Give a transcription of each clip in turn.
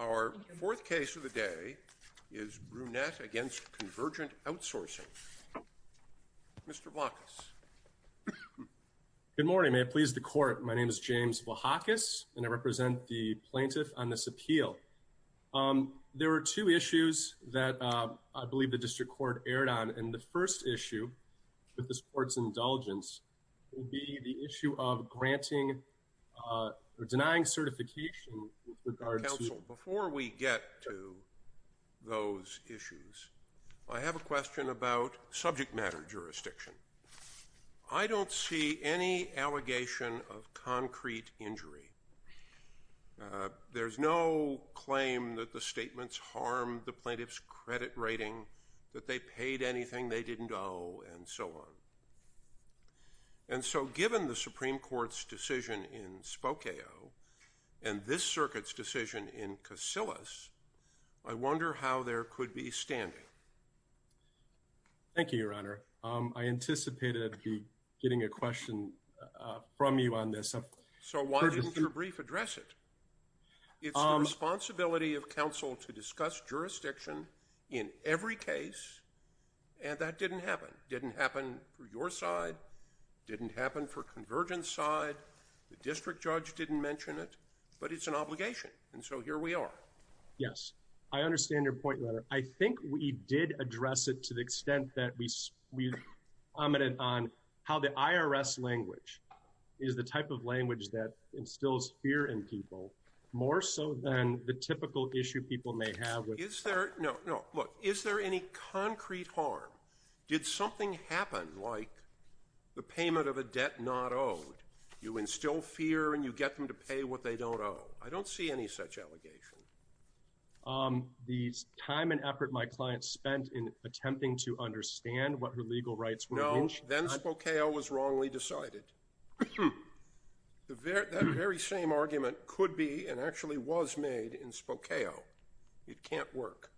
Our fourth case of the day is Brunett against Convergent Outsourcing. Mr. Vlahakis. Good morning. May it please the court, my name is James Vlahakis and I represent the plaintiff on this appeal. There are two issues that I believe the district court erred on and the first issue with this court's indulgence will be the counsel. Before we get to those issues I have a question about subject matter jurisdiction. I don't see any allegation of concrete injury. There's no claim that the statements harmed the plaintiff's credit rating, that they paid anything they didn't owe, and so on. And so given the Supreme Court's decision in Spokeo and this circuit's decision in Kosyllis, I wonder how there could be standing. Thank you, Your Honor. I anticipated getting a question from you on this. So why didn't your brief address it? It's the responsibility of counsel to discuss jurisdiction in every case and that didn't happen. Didn't happen for your side, the district judge didn't mention it, but it's an obligation and so here we are. Yes, I understand your point, Your Honor. I think we did address it to the extent that we commented on how the IRS language is the type of language that instills fear in people more so than the typical issue people may have with... Is there, no, no, look, is there any concrete harm? Did something happen like the payment of a debt not owed? You instill fear and you get them to pay what they don't owe. I don't see any such allegation. The time and effort my client spent in attempting to understand what her legal rights were... No, then Spokeo was wrongly decided. That very same argument could be and actually was made in Spokeo. It can't work.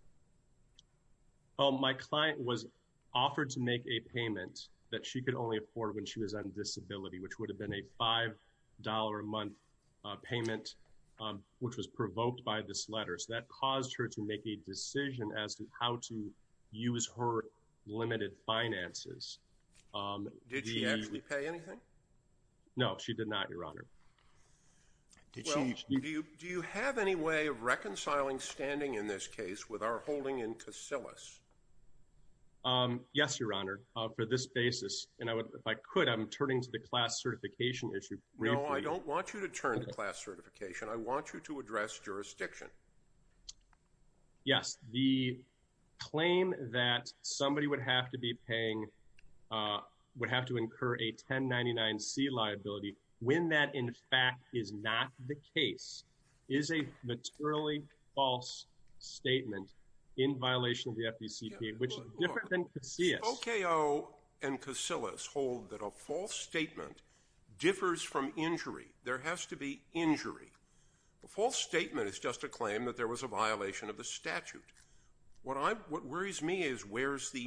My client was offered to make a payment that she could only afford when she was on disability, which would have been a $5 a month payment, which was provoked by this letter, so that caused her to make a decision as to how to use her limited finances. Did she actually pay anything? No, she did not, Your Honor. Do you have any way of reconciling standing in this case with our holding in Casillas? Yes, Your Honor, for this basis, and I would, if I could, I'm turning to the class certification issue. No, I don't want you to turn to class certification. I want you to address jurisdiction. Yes, the claim that somebody would have to be paying, would have to incur a 1099-C liability when that in fact is not the case, is a materially false statement in violation of the FDCPA, which is different than Casillas. Spokeo and Casillas hold that a false statement differs from injury. There has to be injury. The false statement is just a claim that there was a violation of the statute. What I'm, what worries me is where's the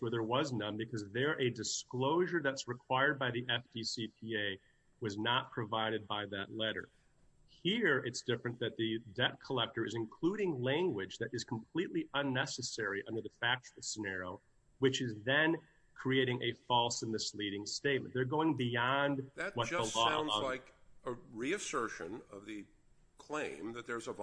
where there was none because they're a disclosure that's required by the FDCPA was not provided by that letter. Here, it's different that the debt collector is including language that is completely unnecessary under the factual scenario, which is then creating a false and misleading statement. They're going beyond what the law allows. That just sounds like a reassertion of the claim that there's a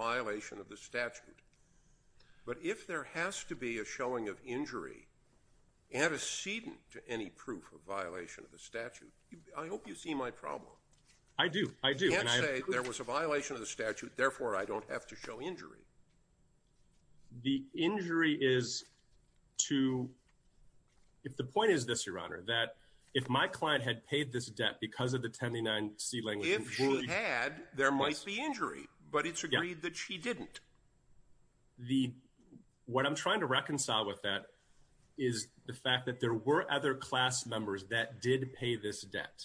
antecedent to any proof of violation of the statute. I hope you see my problem. I do, I do. You can't say there was a violation of the statute, therefore I don't have to show injury. The injury is to, if the point is this, Your Honor, that if my client had paid this debt because of the 1099-C language. If she had, there might be injury, but it's agreed that she didn't. The, what I'm trying to reconcile with that is the fact that there were other class members that did pay this debt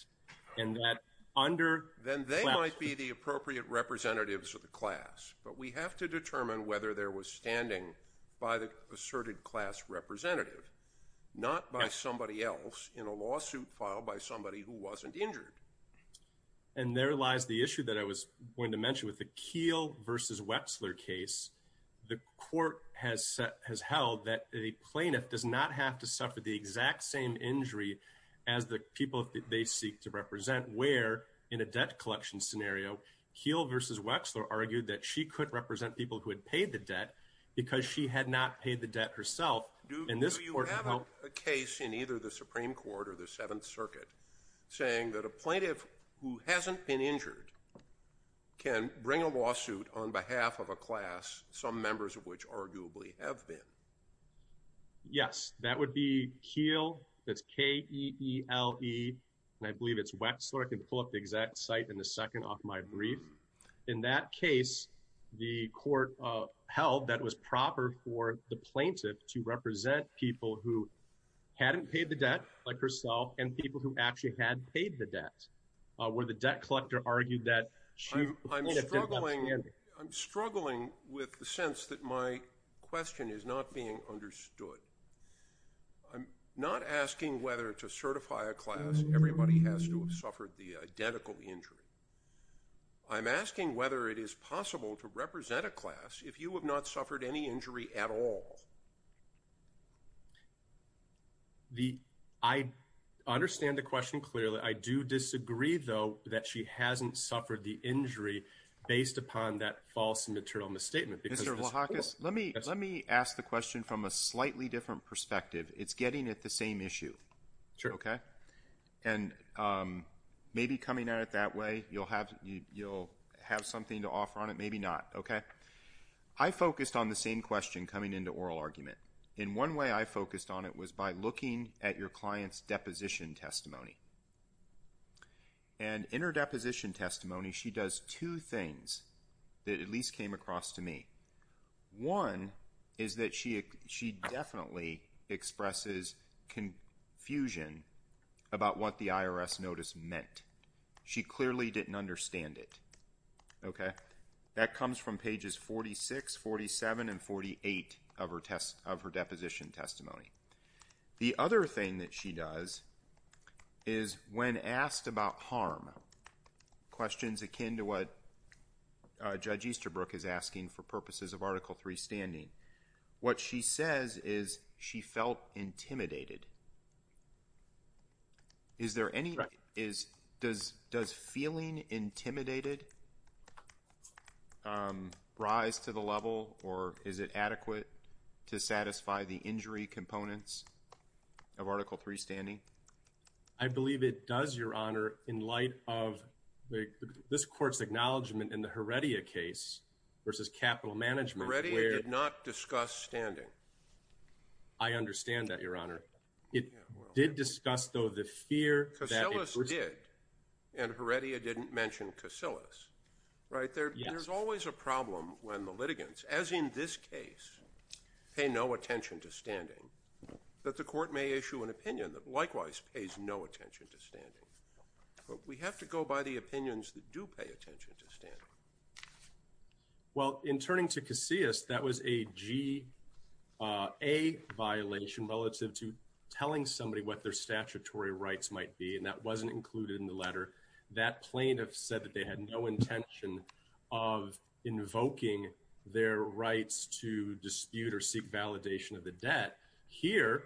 and that under. Then they might be the appropriate representatives of the class, but we have to determine whether there was standing by the asserted class representative, not by somebody else in a lawsuit filed by somebody who wasn't injured. And there lies the issue that I was going to mention with the Keele versus Wexler case. The court has said, has held that a plaintiff does not have to suffer the exact same injury as the people that they seek to represent. Where, in a debt collection scenario, Keele versus Wexler argued that she could represent people who had paid the debt because she had not paid the debt herself. Do you have a case in either the Supreme Court or the can bring a lawsuit on behalf of a class, some members of which arguably have been. Yes, that would be Keele. That's K E E L E. And I believe it's Wexler. I can pull up the exact site in a second off my brief. In that case, the court held that was proper for the plaintiff to represent people who hadn't paid the debt like herself and people who actually had paid the debt, where the debt collector argued that I'm struggling. I'm struggling with the sense that my question is not being understood. I'm not asking whether to certify a class. Everybody has to have suffered the identical injury. I'm asking whether it is possible to represent a class if you have not clearly. I do disagree, though, that she hasn't suffered the injury based upon that false material misstatement. Mr. Wahakis, let me let me ask the question from a slightly different perspective. It's getting at the same issue. Okay. And maybe coming at it that way, you'll have you'll have something to offer on it. Maybe not. Okay. I focused on the same question coming into oral argument. In one way, I focused on it was by looking at your client's deposition testimony. And in her deposition testimony, she does two things that at least came across to me. One is that she she definitely expresses confusion about what the IRS notice meant. She clearly didn't understand it. Okay. That comes from pages 46, 47, and 48 of her test of her deposition testimony. The other thing that she does is when asked about harm questions akin to what Judge Easterbrook is asking for purposes of Article 3 standing. What she says is she felt intimidated. Is there any is does does feeling intimidated rise to the level or is it adequate to satisfy the injury components of Article 3 standing? I believe it does, Your Honor, in light of the this court's acknowledgment in the Heredia case versus capital management. Heredia did not discuss standing. I understand that, Your Honor. It did discuss though the fear. Casillas did. And Heredia didn't mention Casillas. Right? There's always a problem when the litigants, as in this case, pay no attention to standing. That the court may issue an opinion that likewise pays no attention to standing. We have to go by the opinions that do pay attention to standing. Well, in turning to Casillas, that was a G-A violation relative to telling somebody what their statutory rights might be. And that wasn't included in the letter. That plaintiff said that had no intention of invoking their rights to dispute or seek validation of the debt. Here,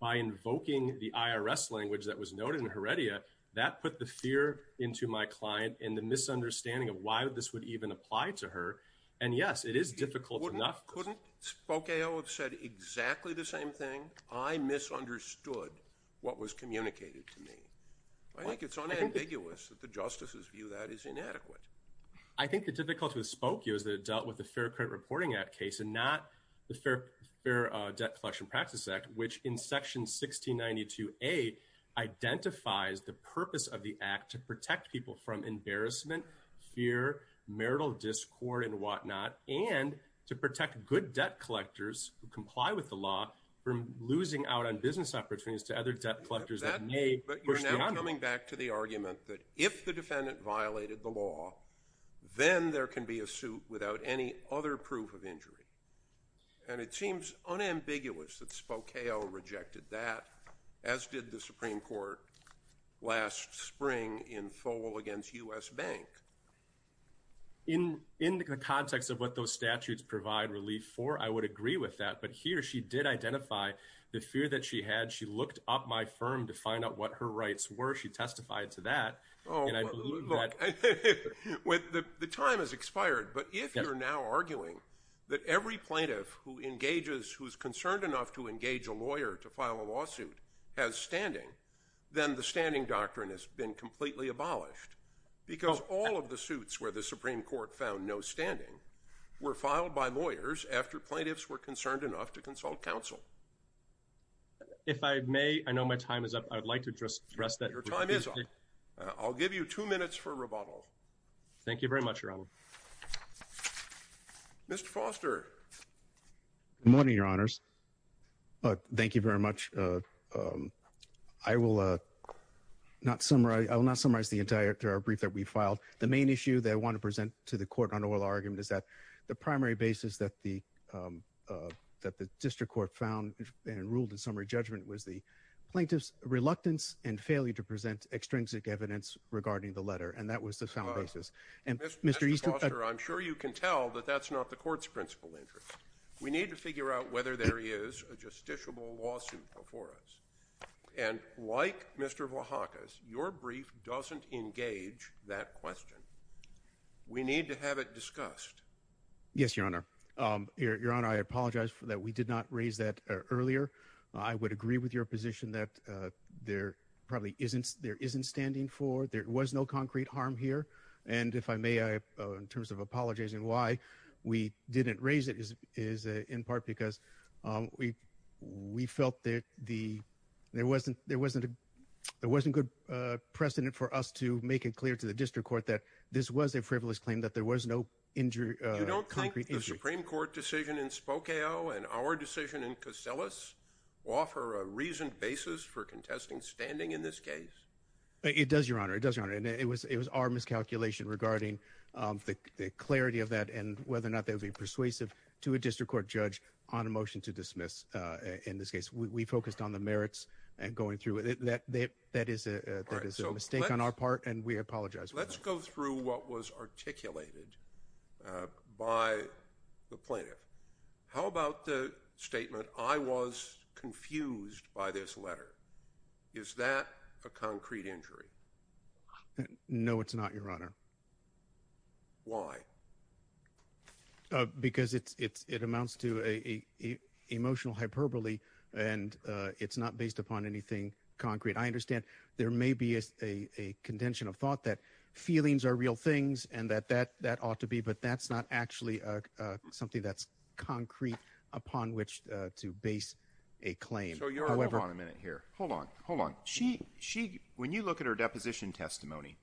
by invoking the IRS language that was noted in Heredia, that put the fear into my client and the misunderstanding of why this would even apply to her. And yes, it is difficult enough. Couldn't Spokeo have said exactly the same thing? I misunderstood what was communicated to me. I think it's unambiguous that the justices view that as inadequate. I think the difficulty with Spokeo is that it dealt with the Fair Credit Reporting Act case and not the Fair Debt Collection Practice Act, which in section 1692A identifies the purpose of the act to protect people from embarrassment, fear, marital discord, and whatnot. And to protect good debt collectors who comply with the law from losing out on business opportunities to other debt collectors that may push beyond them. But you're now coming back to the argument that if the defendant violated the law, then there can be a suit without any other proof of injury. And it seems unambiguous that Spokeo rejected that, as did the Supreme Court last spring in Fole against U.S. Bank. In the context of what those statutes provide relief for, I would agree with that. But here, she did identify the fear that she had. She looked up my firm to find out what her rights were. She testified to that. Oh, look, the time has expired. But if you're now arguing that every plaintiff who engages, who's concerned enough to engage a lawyer to file a lawsuit, has standing, then the standing doctrine has been completely abolished. Because all of the suits where the Supreme Court found no standing were filed by lawyers after plaintiffs were concerned enough to consult counsel. If I may, I know my time is up. I'd like to just address that. Your time is up. I'll give you two minutes for rebuttal. Thank you very much, Your Honor. Mr. Foster. Good morning, Your Honors. Thank you very much. I will not summarize the entire brief that we filed. The main issue that I want to present to the Court on oral argument is that the primary basis that the District Court found and ruled in summary judgment was the plaintiff's reluctance and failure to present extrinsic evidence regarding the letter. And that was the sound basis. Mr. Foster, I'm sure you can tell that that's not the Court's principal interest. We need to figure out whether there is a justiciable lawsuit before us. And like Mr. Wahakis, your brief doesn't engage that question. We need to have it discussed. Yes, Your Honor. Your Honor, I apologize for that. We did not raise that earlier. I would agree with your position that there probably isn't, there isn't standing for, there was no concrete harm here. And if I may, in terms of apologizing why we didn't raise it is in part because we felt that there wasn't, there wasn't a, there wasn't good precedent for us to make it clear to the District Court that this was a frivolous claim, that there was no injury. You don't think the Supreme Court decision in Spokale and our decision in Koselos offer a reasoned basis for contesting standing in this case? It does, Your Honor. It does, Your Honor. And it was, it was our miscalculation regarding the clarity of that and whether or not they would be persuasive to a District Court judge on a motion to dismiss in this case. We focused on the merits and going through it. That, that, that is a, that is a mistake on our part and we apologize. Let's go through what was articulated by the plaintiff. How about the statement, I was confused by this letter. Is that a concrete injury? No, it's not, Your Honor. Why? Because it's, it's, it amounts to a emotional hyperbole and it's not based upon anything concrete. I understand there may be a, a contention of thought that feelings are real things and that, that, that ought to be, but that's not actually something that's concrete upon which to base a claim. So Your Honor, hold on a minute here. Hold on. She, she, when you look at her deposition testimony,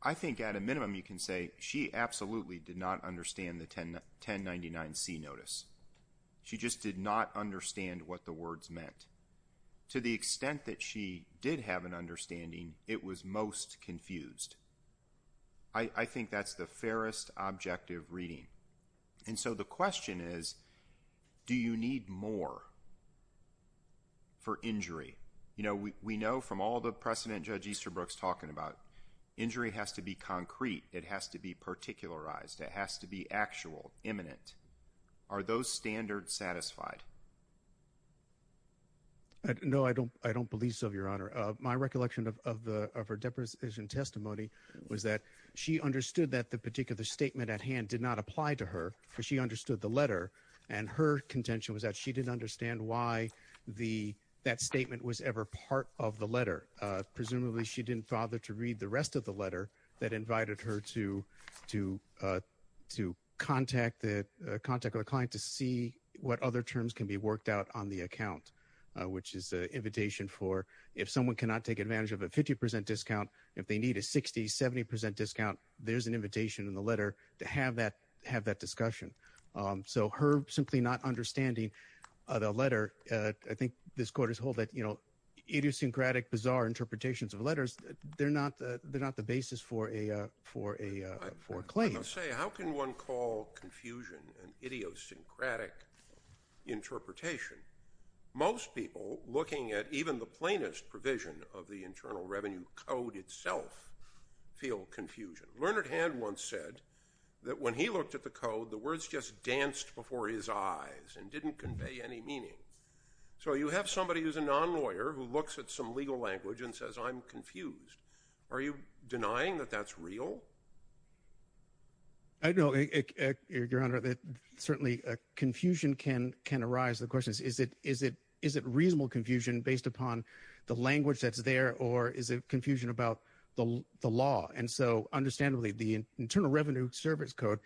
I think at a minimum you can say she absolutely did not understand the 1099C notice. She just did not understand what the words meant. To the extent that she did have an understanding, it was most confused. I, I think that's the You know, we, we know from all the precedent Judge Easterbrook's talking about. Injury has to be concrete. It has to be particularized. It has to be actual, imminent. Are those standards satisfied? No, I don't, I don't believe so, Your Honor. My recollection of, of the, of her deposition testimony was that she understood that the particular statement at hand did not apply to her because she understood the letter and her contention was that she didn't understand why the, that statement was ever part of the letter. Presumably she didn't bother to read the rest of the letter that invited her to, to, to contact the, contact her client to see what other terms can be worked out on the account, which is an invitation for if someone cannot take advantage of a 50% discount, if they need a 60, 70% discount, there's an invitation in the letter to have that, have that discussion. So her simply not understanding the letter, I think this court has hold that, you know, idiosyncratic, bizarre interpretations of letters, they're not, they're not the basis for a, for a, for a claim. I was going to say, how can one call confusion an idiosyncratic interpretation? Most people looking at even the plainest provision of the Internal Revenue Code itself feel confusion. Learned Hand once said that when he looked at the code, the words just danced before his eyes and didn't convey any meaning. So you have somebody who's a non-lawyer who looks at some legal language and says, I'm confused. Are you denying that that's real? I know, Your Honor, that certainly confusion can, can arise. The question is, is it, is it, is it reasonable confusion based upon the language that's there or is it confusion about the, the law? And so understandably, the Internal Revenue Service Code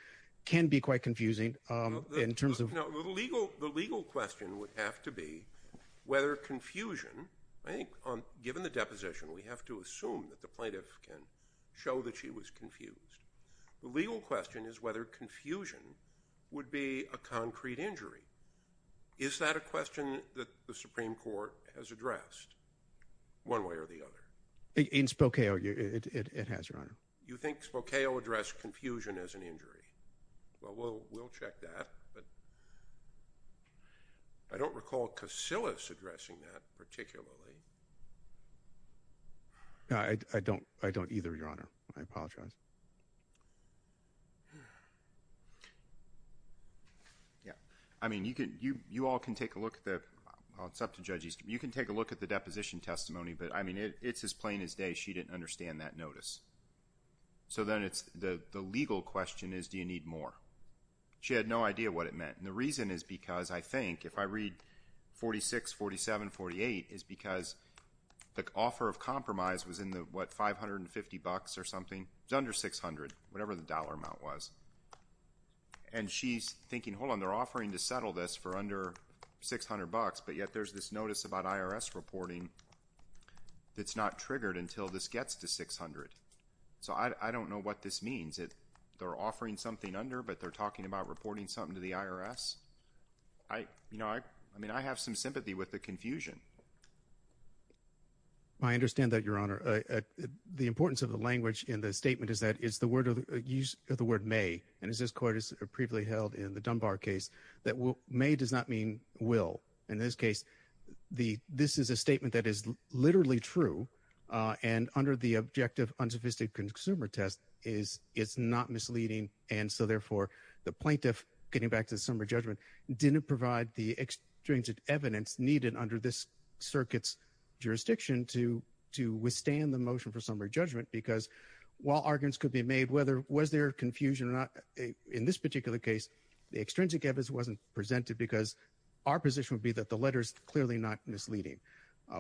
can be quite confusing in terms of... No, the legal, the legal question would have to be whether confusion, I think, on, given the deposition, we have to assume that the plaintiff can show that she was confused. The legal question is whether confusion would be a concrete injury. Is that a question that the Supreme Court has addressed one way or the other? In Spokeo, it has, Your Honor. You think Spokeo addressed confusion as an injury? Well, we'll, we'll check that, but I don't recall Casillas addressing that particularly. No, I, I don't, I don't either, Your Honor. I apologize. Yeah. I mean, you can, you, you all can take a look at the, well, it's up to judges. You can take a look at the deposition testimony, but I mean, it, it's as plain as day. She didn't understand that notice. So then it's the, the legal question is, do you need more? She had no idea what it meant. And the reason is because, I think, if I read 46, 47, 48, is because the offer of compromise was in the, what, 550 bucks or something. It's under 600, whatever the dollar amount was. And she's thinking, hold on, they're offering to settle this for under 600 bucks, but yet there's this notice about IRS reporting that's not triggered until this gets to 600. So I, I don't know what this means. It, they're offering something under, but they're talking about reporting something to the IRS. I, you know, I, I mean, I have some questions. I understand that your honor, the importance of the language in the statement is that it's the word of use of the word may. And as this court is previously held in the Dunbar case that will may does not mean will in this case, the, this is a statement that is literally true and under the objective unsophisticated consumer test is it's not misleading. And so therefore the plaintiff getting back to the summary judgment didn't provide the extrinsic evidence needed under this circuits jurisdiction to, to withstand the motion for summary judgment, because while arguments could be made, whether, was there confusion or not in this particular case, the extrinsic evidence wasn't presented because our position would be that the letters clearly not misleading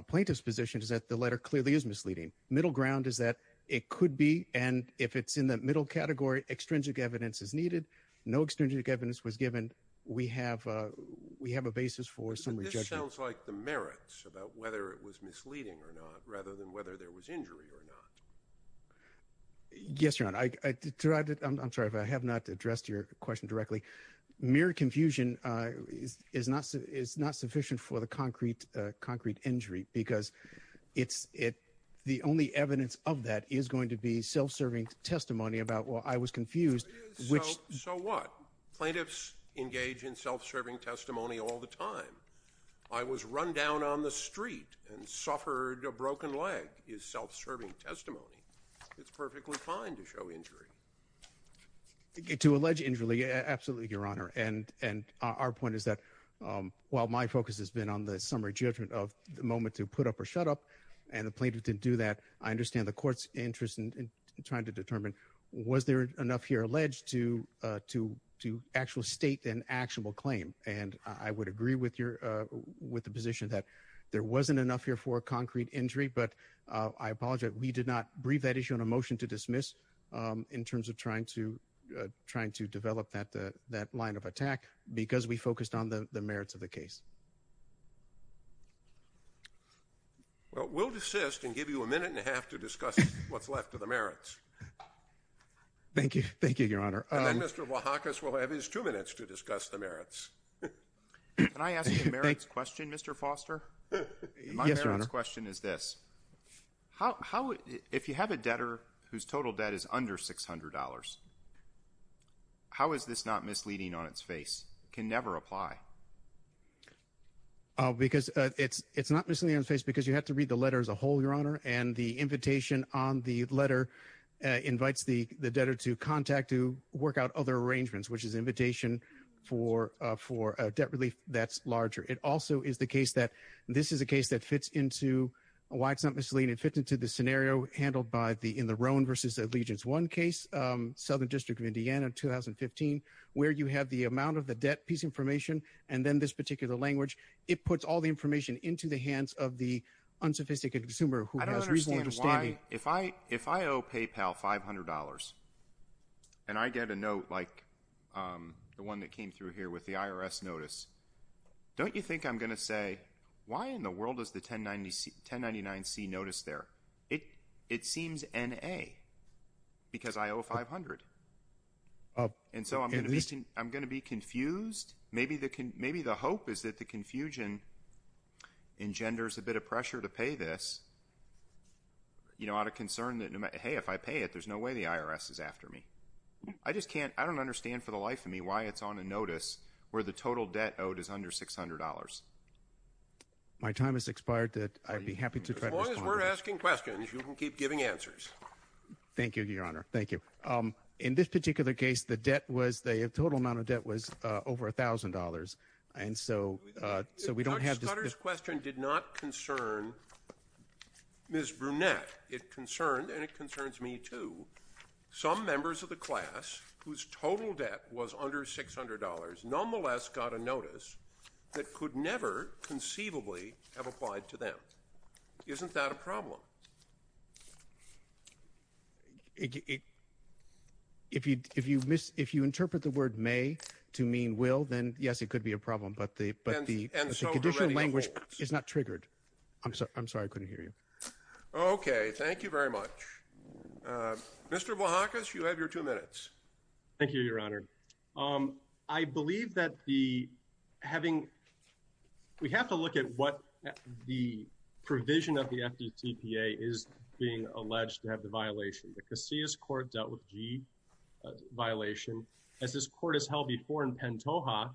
plaintiff's position is that the letter clearly is misleading. Middle ground is that it could be. And if it's in the middle category, extrinsic evidence is needed. No extrinsic evidence was given. We have a, we have a basis for some rejections, like the merits about whether it was misleading or not, rather than whether there was injury or not. Yes, your honor. I, I tried to, I'm sorry, if I have not addressed your question directly, mere confusion is, is not, is not sufficient for the concrete concrete injury because it's, it, the only evidence of that is going to be self-serving testimony about, well, I was confused, So what? Plaintiffs engage in self-serving testimony all the time. I was run down on the street and suffered a broken leg is self-serving testimony. It's perfectly fine to show injury. To allege injury, absolutely, your honor. And, and our point is that, while my focus has been on the summary judgment of the moment to put up or shut up, and the plaintiff didn't do that, I understand the court's interest in trying to determine, was there enough here alleged to, to, to actual state an actionable claim? And I would agree with your, with the position that there wasn't enough here for a concrete injury, but I apologize. We did not brief that issue on a motion to dismiss in terms of trying to, trying to develop that, that line of attack because we focused on the merits of the case. Well, we'll desist and give you a minute and a half to discuss what's left of the merits. Thank you. Thank you, your honor. And then Mr. Wahakis will have his two minutes to discuss the merits. Can I ask you a merits question, Mr. Foster? Yes, your honor. My merits question is this. How, how, if you have a debtor whose total debt is under $600, how is this not misleading on its face? It can never apply. Because it's, it's not misleading on its face because you have to read the letter as a whole, and the invitation on the letter invites the, the debtor to contact to work out other arrangements, which is invitation for, for a debt relief that's larger. It also is the case that this is a case that fits into why it's not misleading. It fits into the scenario handled by the, in the Roan versus Allegiance One case, Southern District of Indiana, 2015, where you have the amount of the debt piece information. And then this particular language, it puts all the information into the hands of the unsophisticated consumer who has reasonable understanding. I don't understand why, if I, if I owe PayPal $500, and I get a note like the one that came through here with the IRS notice, don't you think I'm going to say, why in the world is the 1099C notice there? It, it seems N-A, because I owe 500. And so I'm going to be, I'm going to be confused. Maybe the, maybe the hope is that the confusion engenders a bit of pressure to pay this, you know, out of concern that, hey, if I pay it, there's no way the IRS is after me. I just can't, I don't understand for the life of me why it's on a notice where the total debt owed is under $600. My time has expired that I'd be happy to. As long as we're asking questions, you can keep giving answers. Thank you, Your Honor. Thank you. In this particular case, the debt was, the total amount of debt was over $1,000. And so, so we don't have this. Dr. Scudder's question did not concern Ms. Brunette. It concerned, and it concerns me too, some members of the class whose total debt was under $600 nonetheless got a notice that could never conceivably have applied to them. Isn't that a problem? It, it, if you, if you miss, if you interpret the word may to mean will, then yes, it could be a problem, but the, but the conditional language is not triggered. I'm sorry. I'm sorry. I couldn't hear you. Okay. Thank you very much. Mr. Bohacus, you have your two minutes. Thank you, Your Honor. I believe that the having, we have to look at what the provision of the FDTPA is being alleged to have the violation. The Casillas court dealt with G violation. As this court has held before in Pantoja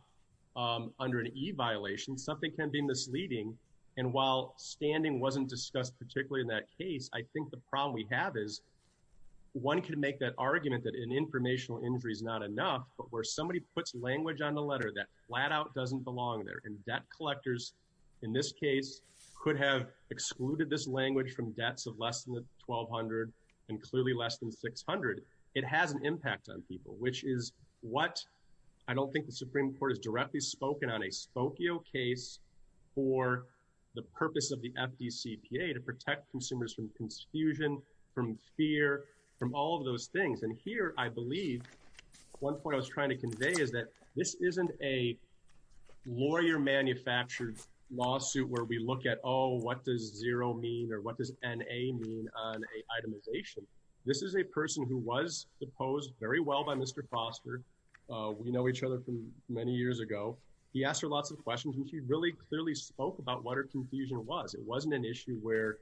under an E violation, something can be misleading. And while standing wasn't discussed particularly in that case, I think the problem we have is one can make that argument that an informational injury is not enough, but where somebody puts language on the letter that flat out doesn't belong there. And debt collectors, in this case could have excluded this language from debts of less than 1200 and clearly less than 600. It has an impact on people, which is what I don't think the Supreme Court has directly spoken on a Spokio case for the purpose of the FDCPA to protect consumers from confusion, from fear, from all of those things. And here, I believe one point I was trying to convey is that this isn't a lawyer manufactured lawsuit where we look at, oh, what does zero mean or what does NA mean on itemization? This is a person who was opposed very well by Mr. Foster. We know each other from many years ago. He asked her lots of questions and she really clearly spoke about what her confusion was. It wasn't an issue where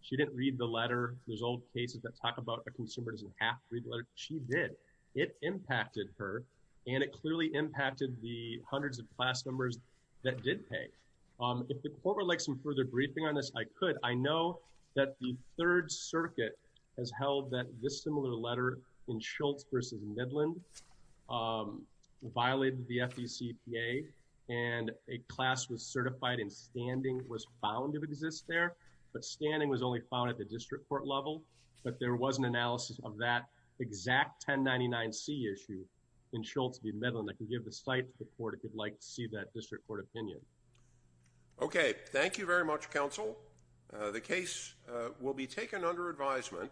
she didn't read the letter. There's old cases that talk about a consumer doesn't have to read the letter. She did. It impacted her and it clearly impacted the hundreds of class members that did pay. If the court would like some further briefing on this, I could. I know that the Third Circuit has held that this similar letter in Schultz versus Midland violated the FDCPA and a class was certified and standing was found to exist there, but standing was only found at the district court level, but there was an analysis of that exact 1099C issue in Schultz v. Midland. I can give the site to the court if you'd like to see that district court opinion. Okay, thank you very much, counsel. The case will be taken under advisement.